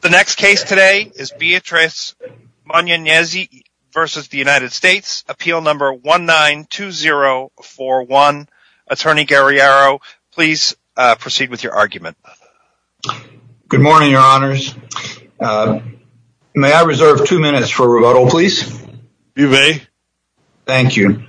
The next case today is Beatrice Mnyenyezi v. United States, appeal number 192041. Attorney Guerriero, please proceed with your argument. Good morning, your honors. May I reserve two minutes for rebuttal, please? You may. Thank you.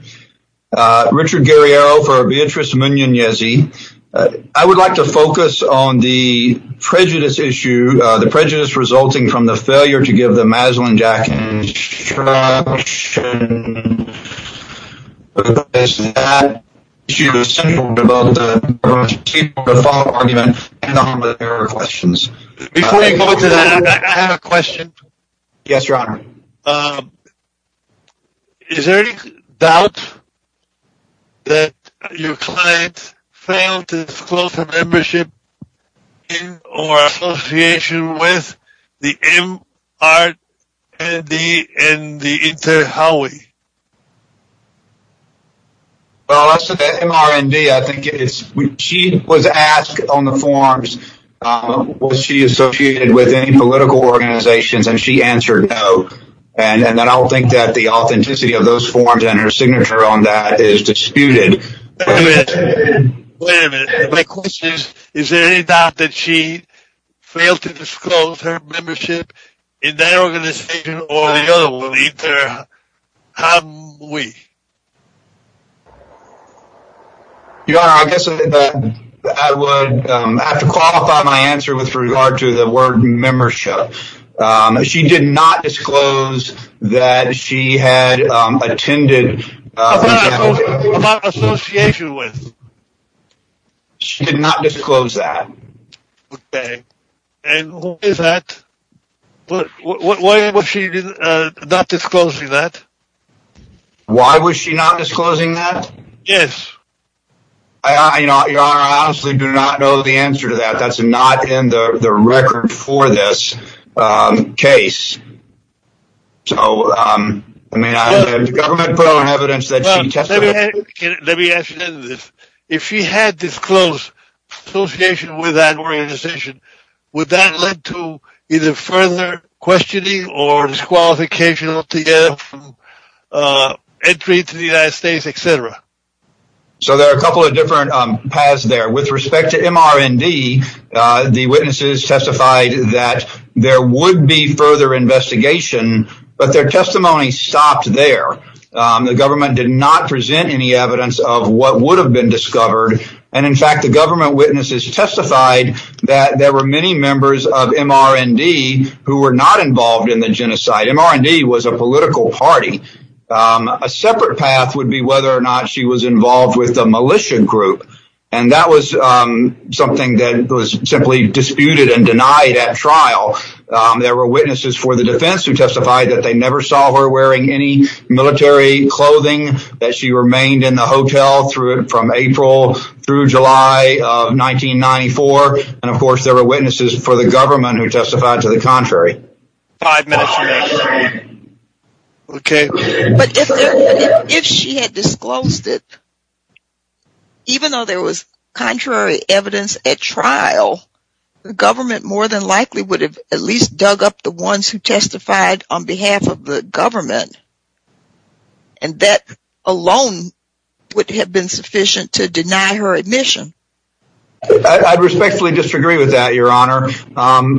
Richard Guerriero for Beatrice Mnyenyezi. I would like to focus on the prejudice issue, the prejudice resulting from the failure to give the Maslin-Jacken instruction because that issue is central to both the argument and their questions. Before you go to that, I have a question. Yes, your honor. Is there any doubt that your client failed to disclose her membership in or association with the MRND and the Inter-Hawaii? Well, as to the MRND, I think she was asked on the forms was she associated with any and then I don't think that the authenticity of those forms and her signature on that is disputed. Wait a minute. My question is, is there any doubt that she failed to disclose her membership in that organization or the other one, Inter-Hawaii? Your honor, I guess I would have to qualify my answer with regard to the word membership. She did not disclose that she had attended. About association with? She did not disclose that. Okay. And who is that? Why was she not disclosing that? Why was she not disclosing that? Yes. I honestly do not know the answer to that. That's not in the record for this case. So, I mean, I have government evidence that she testified. Let me ask you this. If she had disclosed association with that organization, would that lead to either further questioning or disqualification to get entry to the United States, et cetera? So, there are a couple of different paths there. With respect to MRND, the witnesses testified that there would be further investigation, but their testimony stopped there. The government did not present any evidence of what would have been discovered. And, in fact, the government witnesses testified that there were many members of MRND who were not involved in the genocide. MRND was a political party. A separate path would be whether or not she was involved with the militia group. And that was something that was simply disputed and denied at trial. There were witnesses for the defense who testified that they never saw her wearing any military clothing, that she remained in the hotel from April through July of 1994. And, of course, there were witnesses for the government who testified to the contrary. Five minutes remaining. Okay. But if she had disclosed it, even though there was contrary evidence at trial, the government more than likely would have at least dug up the ones who testified on behalf of the government. And that alone would have been sufficient to deny her admission. I respectfully disagree with that, Your Honor, for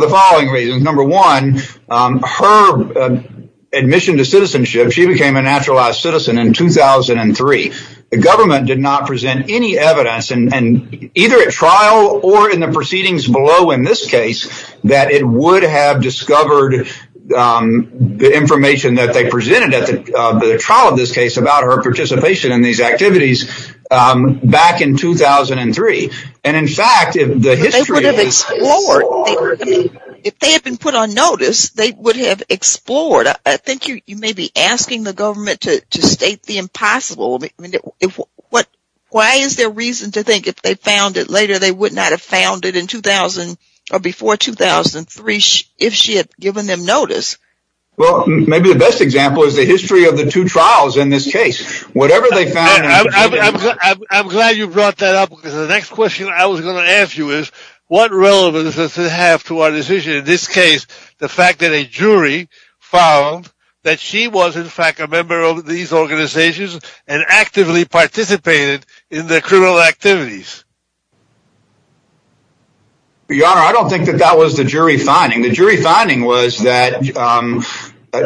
the following reasons. Number one, her admission to citizenship, she became a naturalized citizen in 2003. The government did not present any evidence, either at trial or in the proceedings below in this case, that it would have discovered the information that they presented at the trial of this case about her participation in these activities back in 2003. And, in fact, if they had been put on notice, they would have explored. I think you may be asking the government to state the impossible. Why is there reason to think if they found it later, they would not have found it in 2000 or before 2003 if she had given them notice? Well, maybe the best example is the history of the two trials in this case. Whatever they found. I'm glad you brought that up because the next question I was going to ask you is what relevance does it have to our decision, in this case, the fact that a jury found that she was, in fact, a member of these organizations and actively participated in the criminal activities? Your Honor, I don't think that that was the jury finding. The jury finding was that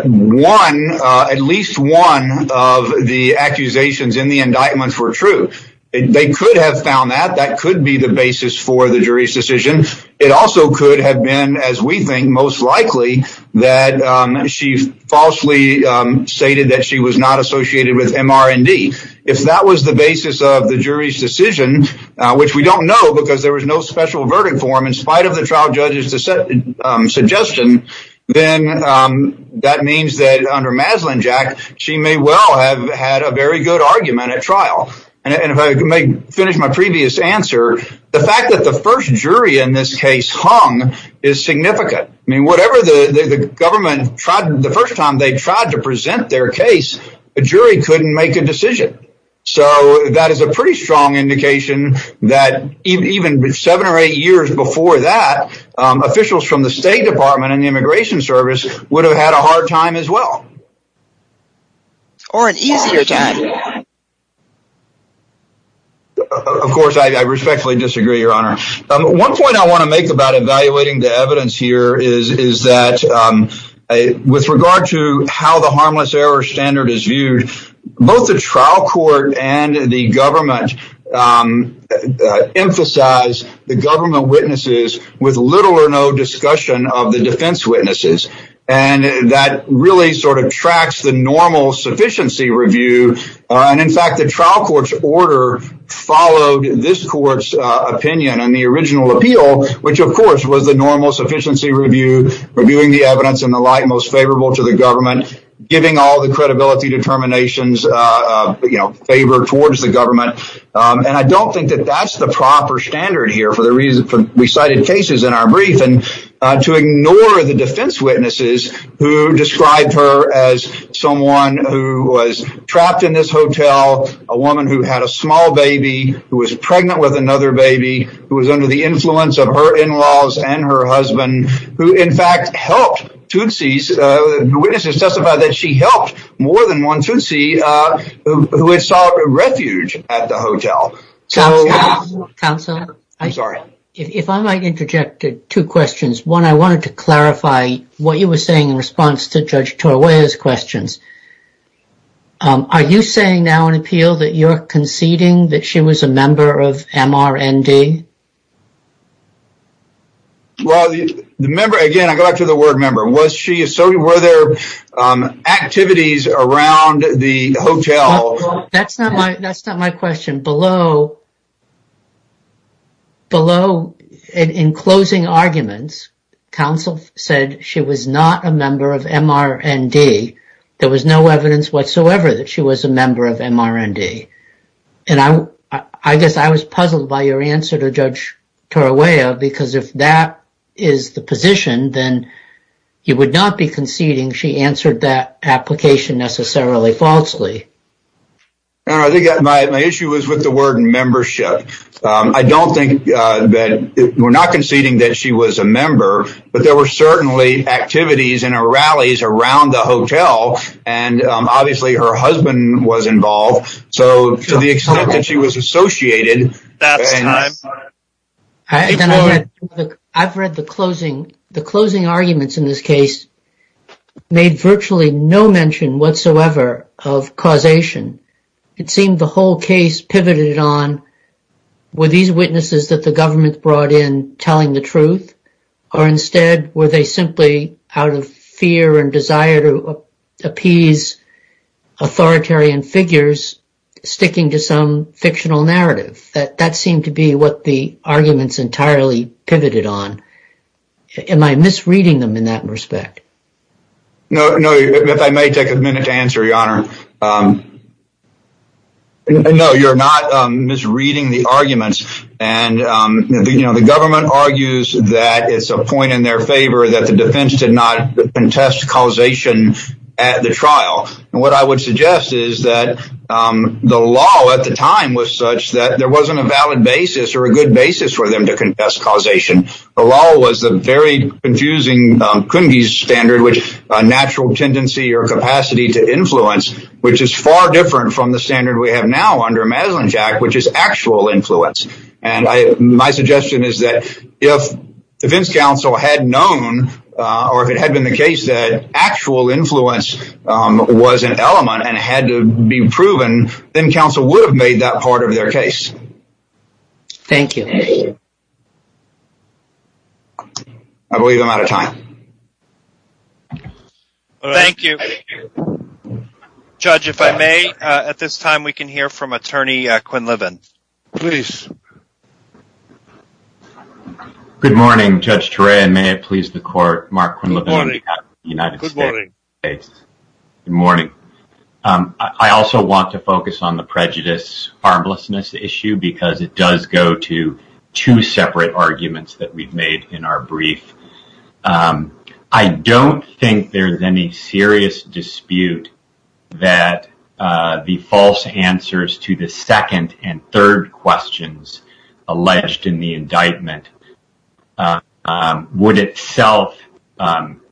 one, at least one of the accusations in the indictments were true. They could have found that. That could be the basis for the jury's decision. It also could have been, as we think, most likely that she falsely stated that she was not associated with MR&D. If that was the basis of the jury's decision, which we don't know because there was no special verdict for him in spite of the trial judge's suggestion, then that means that under Maslin-Jack, she may well have had a very good argument at trial. If I may finish my previous answer, the fact that the first jury in this case hung is significant. Whatever the government tried the first time they tried to present their case, the jury couldn't make a decision. That is a pretty strong indication that even seven or eight years before that, officials from the State Department and the Immigration Service would have had a hard time as well. Or an easier time. Of course, I respectfully disagree, Your Honor. One point I want to make about evaluating the evidence here is that with regard to how the harmless error standard is viewed, both the trial court and the government emphasize the government witnesses with little or no discussion of the defense witnesses. That really sort of tracks the normal sufficiency review. In fact, the trial court's order followed this court's opinion on the original appeal, which of course was the normal sufficiency review, reviewing the evidence in the light most favorable to the government, giving all the credibility determinations favored towards the government. I don't think that is the proper standard here for the recited cases in our brief. To ignore the defense witnesses who described her as someone who was trapped in this hotel, a woman who had a small baby, who was pregnant with another baby, who was under the influence of her in-laws and her husband, who in fact helped Tutsis. Witnesses testified that she helped more than one Tutsi who had sought refuge at the hotel. Counsel, if I might interject two questions. One, I wanted to clarify what you were saying in response to Judge Torway's questions. Are you saying now in appeal that you're conceding that she was a member of MRND? Well, the member, again, I go back to the word member. Was she, so were there activities around the hotel? That's not my, that's not my question. Below, below, in closing arguments, counsel said she was not a member of MRND. There was no evidence whatsoever that she was a member of MRND. And I, I guess I was puzzled by your answer to Judge Torway because if that is the position, then you would not be conceding she answered that application necessarily falsely. No, I think that my issue was with the word membership. I don't think that, we're not conceding that she was a member, but there were certainly activities and rallies around the hotel and obviously her husband was involved. So, to the extent that she was associated. I've read the closing, the closing arguments in this case made virtually no mention whatsoever of causation. It seemed the whole case pivoted on were these witnesses that the government brought in telling the truth or instead were they simply out of fear and desire to appease authoritarian figures sticking to some fictional narrative. That, that seemed to be what the arguments entirely pivoted on. Am I misreading them in that respect? No, no. If I may take a minute to answer, Your Honor. No, you're not misreading the arguments. And, you know, the government argues that it's a point in their favor that the defense did not contest causation at the trial. And what I would suggest is that the law at the time was such that there wasn't a valid basis or a good basis for them to contest causation. The law was a very confusing standard, which a natural tendency or capacity to influence, which is far different from the standard we have now under Maslund's Act, which is actual influence. And my suggestion is that if defense counsel had known or if it had been the case that actual influence was an element and had to be proven, then counsel would have made that part of their case. Thank you. I believe I'm out of time. All right. Thank you. Judge, if I may, at this time, we can hear from Attorney Quinn Liven. Please. Good morning, Judge Turay. And may it please the Court, Mark Quinn Liven, Good morning. Good morning. Good morning. I also want to focus on the prejudice harmlessness issue because it does go to two things. There's any serious dispute that the false answers to the second and third questions alleged in the indictment would itself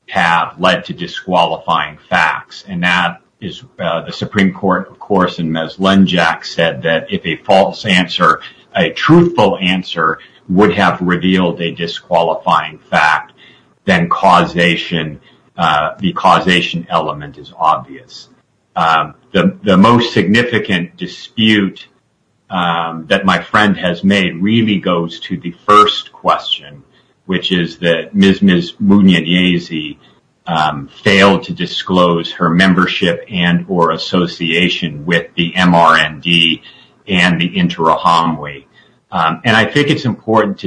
have led to disqualifying facts. And that is the Supreme Court, of course, in Maslund's Act said that if a false answer, a truthful answer would have revealed a disqualifying fact, then causation, the causation element is obvious. The most significant dispute that my friend has made really goes to the first question, which is that Ms. Munyanyesi failed to disclose her membership and or association with the MRND and the Interahamwe. And I think it's important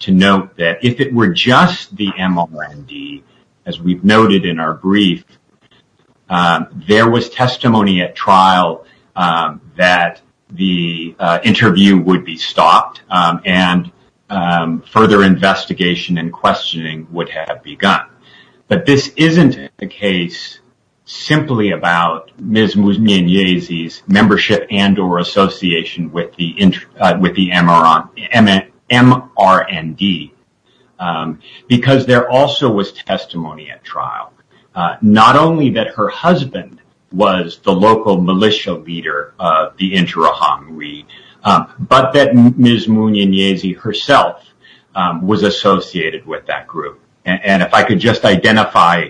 to note that if it were just the MRND, as we've noted in our brief, there was testimony at trial that the interview would be stopped and further investigation and questioning would have begun. But this isn't a case simply about Ms. Munyanyesi's membership and or association with the MRND. Because there also was testimony at trial. Not only that her husband was the local militia leader of the Interahamwe, but that Ms. Munyanyesi herself was associated with that group. And if I could just identify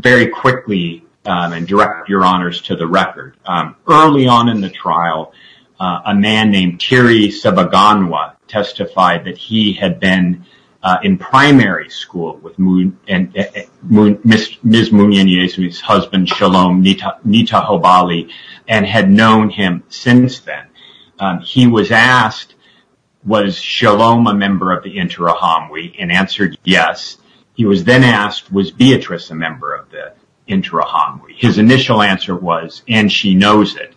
very quickly and direct your honors to the record. Early on in the trial, a man named Thierry Sabaganwa testified that he had been in primary school with Ms. Munyanyesi's husband, Shalom Nitahobali, and had known him since then. He was asked, was Shalom a member of the Interahamwe? His initial answer was, and she knows it.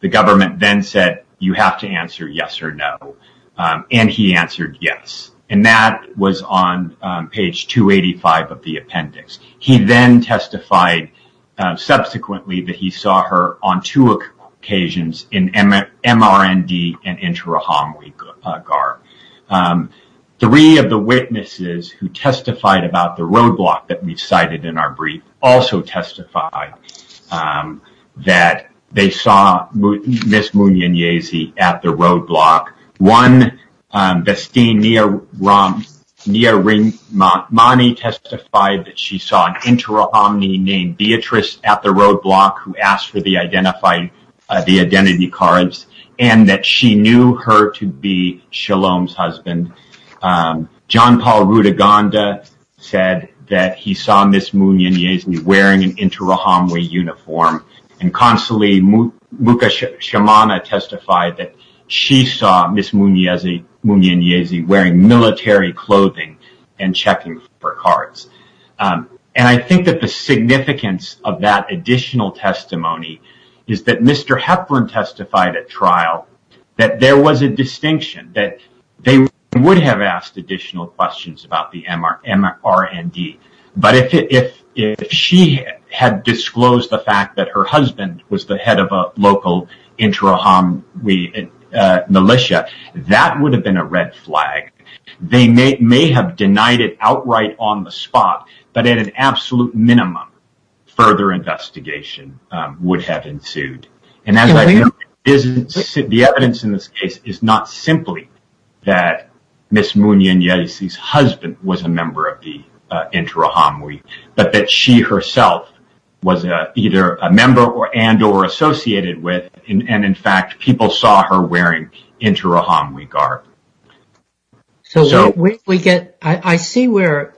The government then said, you have to answer yes or no. And he answered yes. And that was on page 285 of the appendix. He then testified subsequently that he saw her on two occasions in MRND and Interahamwe. Three of the witnesses who testified about the roadblock that we cited in our brief also testified that they saw Ms. Munyanyesi at the roadblock. One, Vestine Nyarimani testified that she saw an Interahamwe named Beatrice at the roadblock who asked for the identity cards. And that she knew her to be Shalom's husband. John Paul Rutaganda said that he saw Ms. Munyanyesi wearing an Interahamwe uniform. And Consul Muka Shamana testified that she saw Ms. Munyanyesi wearing military clothing and checking for cards. And I think that the significance of that additional testimony is that Mr. Hepburn testified at trial that there was a distinction, that they would have asked additional questions about the MRND. But if she had disclosed the fact that her husband was the head of a local Interahamwe militia, that would have been a red And as I know, the evidence in this case is not simply that Ms. Munyanyesi's husband was a member of the Interahamwe, but that she herself was either a member and or associated with, and in fact, people saw her wearing Interahamwe garb. So, I see where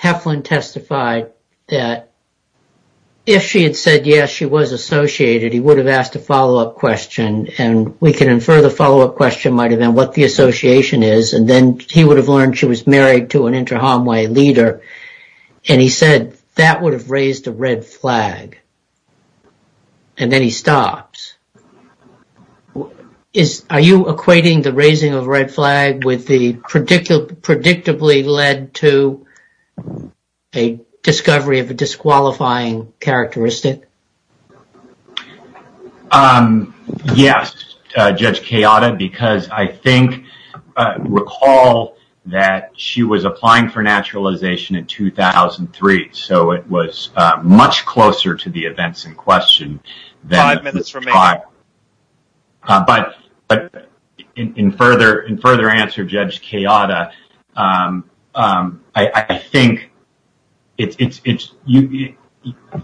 Heflin testified that if she had said yes, she was associated, he would have asked a follow-up question. And we can infer the follow-up question might have been what the association is. And then he would have learned she was married to an Interahamwe leader. And he said that would have raised a red flag. And then he stops. Are you equating the raising of red flag with the predictably led to a discovery of a disqualifying characteristic? Um, yes, Judge Kayada, because I think, recall that she was applying for naturalization in 2003. So, it was much closer to the events in question. Five minutes remaining. But in further answer, Judge Kayada, I think it's,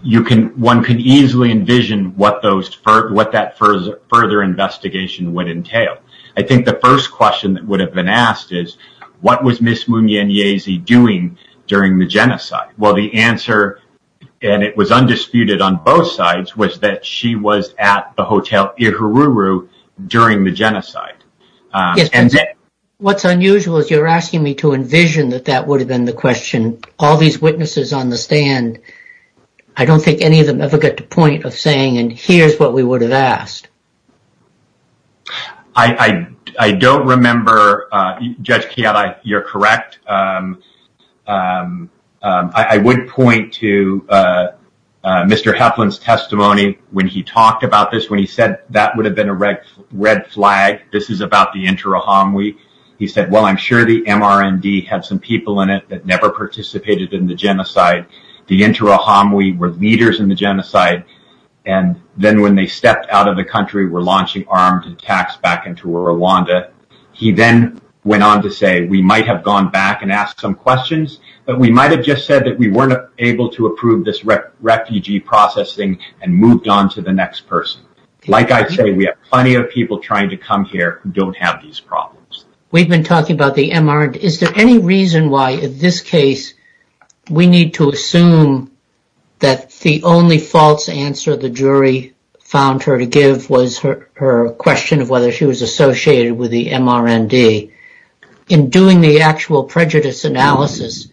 you can, one can easily envision what those, what that further investigation would entail. I think the first question that would have been asked is, what was Ms. Munyanyesi doing during the genocide? Well, the answer, and it was undisputed on both sides, was that she was at the Hotel Ihururu during the genocide. What's unusual is you're asking me to envision that that would have been the question. All these witnesses on the stand, I don't think any of them ever get to point of saying, and here's what we would have asked. I don't remember, Judge Kayada, you're correct. Um, um, um, I would point to, uh, uh, Mr. Heflin's testimony when he talked about this, when he said that would have been a red, red flag. This is about the Inter-Ohamwi. He said, well, I'm sure the MRND had some people in it that never participated in the genocide. The Inter-Ohamwi were leaders in the genocide, and then when they stepped out of the country, were launching armed attacks back into Rwanda. He then went on to say, we might have gone back and asked some questions, but we might have just said that we weren't able to approve this refugee processing and moved on to the next person. Like I say, we have plenty of people trying to come here who don't have these problems. We've been talking about the MRND. Is there any reason why, in this case, we need to assume that the only false answer the jury found her to give was her question of whether she was associated with the MRND? In doing the actual prejudice analysis,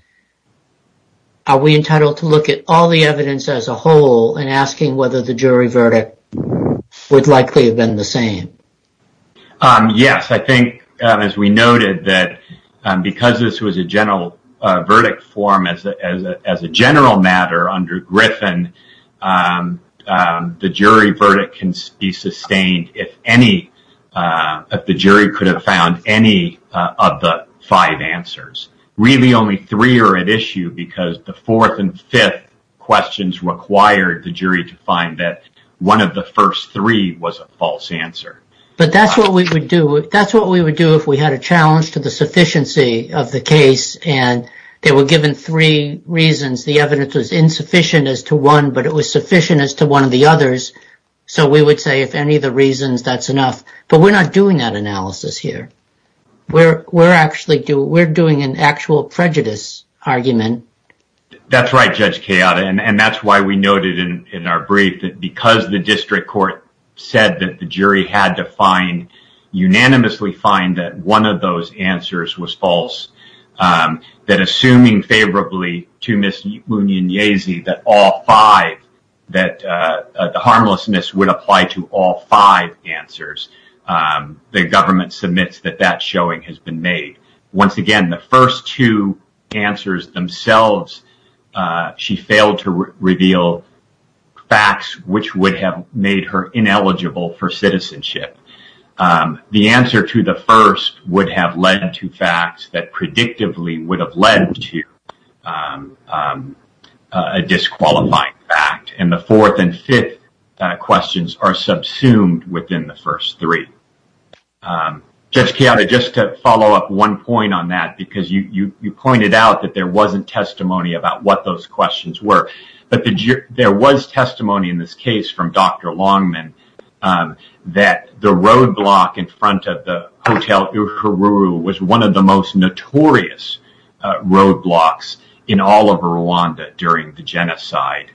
are we entitled to look at all the evidence as a whole and asking whether the jury verdict would likely have been the same? Um, yes. I think, um, as we noted that, um, because this was a general, uh, verdict form as a, as a, as a general matter under Griffin, um, um, the jury verdict can be sustained if any, uh, if the jury could have found any of the five answers. Really only three are at issue because the fourth and fifth questions required the jury to find that one of the first three was a false answer. But that's what we would do. That's what we would do if we had a challenge to the sufficiency of the case. And they were given three reasons. The evidence was insufficient as to one, but it was sufficient as to one of the others. So, we would say, if any of the reasons, that's enough. But we're not doing that analysis here. We're, we're actually doing, we're doing an actual prejudice argument. That's right, Judge Kayada. And that's why we noted in, in our brief that because the district court said that the jury had to find, that all five, that, uh, the harmlessness would apply to all five answers, um, the government submits that that showing has been made. Once again, the first two answers themselves, uh, she failed to reveal facts which would have made her ineligible for citizenship. Um, the answer to the first would have led to facts that predictably would have led to, um, um, a disqualifying fact. And the fourth and fifth questions are subsumed within the first three. Um, Judge Kayada, just to follow up one point on that, because you, you, you pointed out that there wasn't testimony about what those questions were, but there was testimony in this case from Dr. Longman, um, that the roadblock in front of the Hotel Uhuru was one of the most notorious, uh, roadblocks in all of Rwanda during the genocide.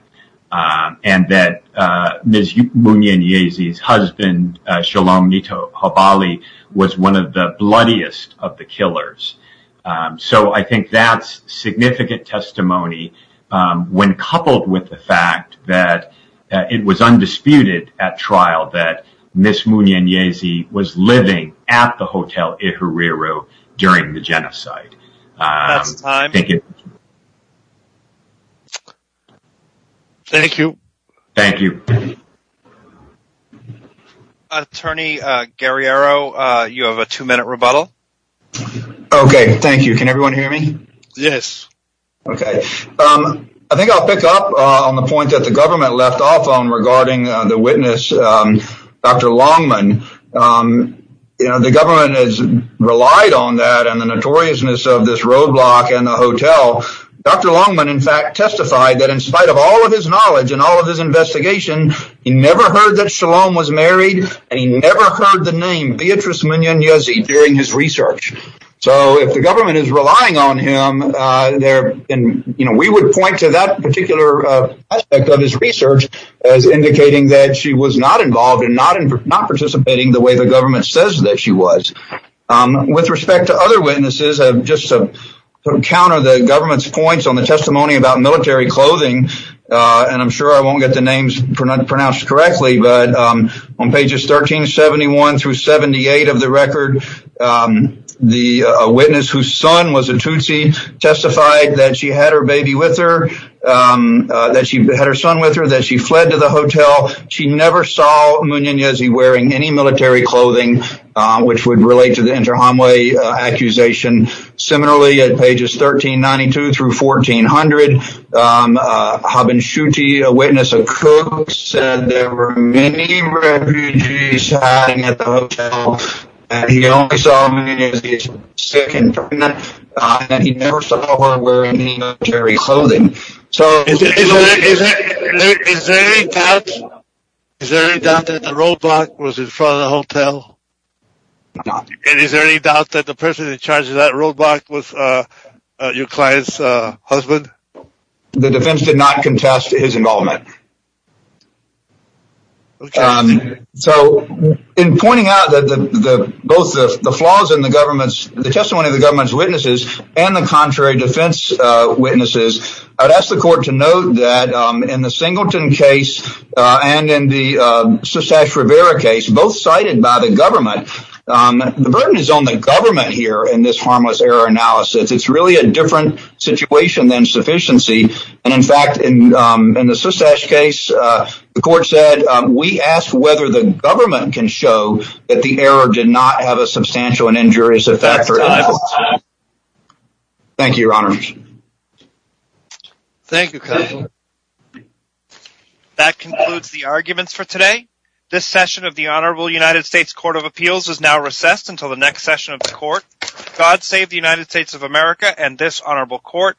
Um, and that, uh, Ms. Munyenyezi's husband, uh, Shalom Nito Habali was one of the bloodiest of the killers. Um, so I think that's significant testimony, um, when coupled with the fact that, uh, it was undisputed at trial that Ms. Munyenyezi was living at the Hotel Uhuru during the genocide. Um, thank you. Thank you. Thank you. Attorney, uh, Guerriero, uh, you have a two minute rebuttal. Okay. Thank you. Can everyone hear me? Yes. Okay. Um, I think I'll pick up, uh, on the point that the government left off on regarding, uh, the witness, um, Dr. Longman. Um, you know, the government has relied on that and the notoriousness of this roadblock and the hotel. Dr. Longman, in fact, testified that in spite of all of his knowledge and all of his investigation, he never heard that Shalom was married and he never heard the name Beatrice Munyenyezi during his research. So if the government is relying on him, uh, you know, we would point to that particular, uh, aspect of his research as indicating that she was not involved and not participating the way the government says that she was. Um, with respect to other witnesses, uh, just to counter the government's points on the testimony about military clothing, uh, and I'm sure I won't get the names pronounced correctly, but, um, on pages 1371 through 78 of the record, um, the, uh, witness whose son was a Tutsi testified that she had her baby with her, um, uh, that she had her son with her, that she fled to the hotel. She never saw Munyenyezi wearing any military clothing, uh, which would relate to the inter-hamwe accusation. Similarly, at pages 1392 through 1400, um, uh, Habenshuti, a witness, a cook said there were many refugees hiding at the hotel and he only saw Munyenyezi sick and pregnant, uh, and he never saw her wearing any military clothing. So is there any doubt that the roadblock was in front of the hotel? And is there any doubt that the person in charge of that roadblock was, uh, your client's, uh, husband? The defense did not contest his involvement. Um, so in pointing out that the, the, both the flaws in the government's, the testimony of the government's witnesses and the contrary defense, uh, witnesses, I'd ask the court to note that, um, in the Singleton case, uh, and in the, uh, Sustache Rivera case, both cited by the government, um, the burden is on the government here in this harmless error analysis. It's really a different situation than sufficiency. And in fact, in, um, the Sustache case, uh, the court said, um, we asked whether the government can show that the error did not have a substantial and injurious effect. Thank you, your honors. Thank you. That concludes the arguments for today. This session of the Honorable United States Court of Appeals is now recessed until the next session of the court. God save the United States of America and this honorable court.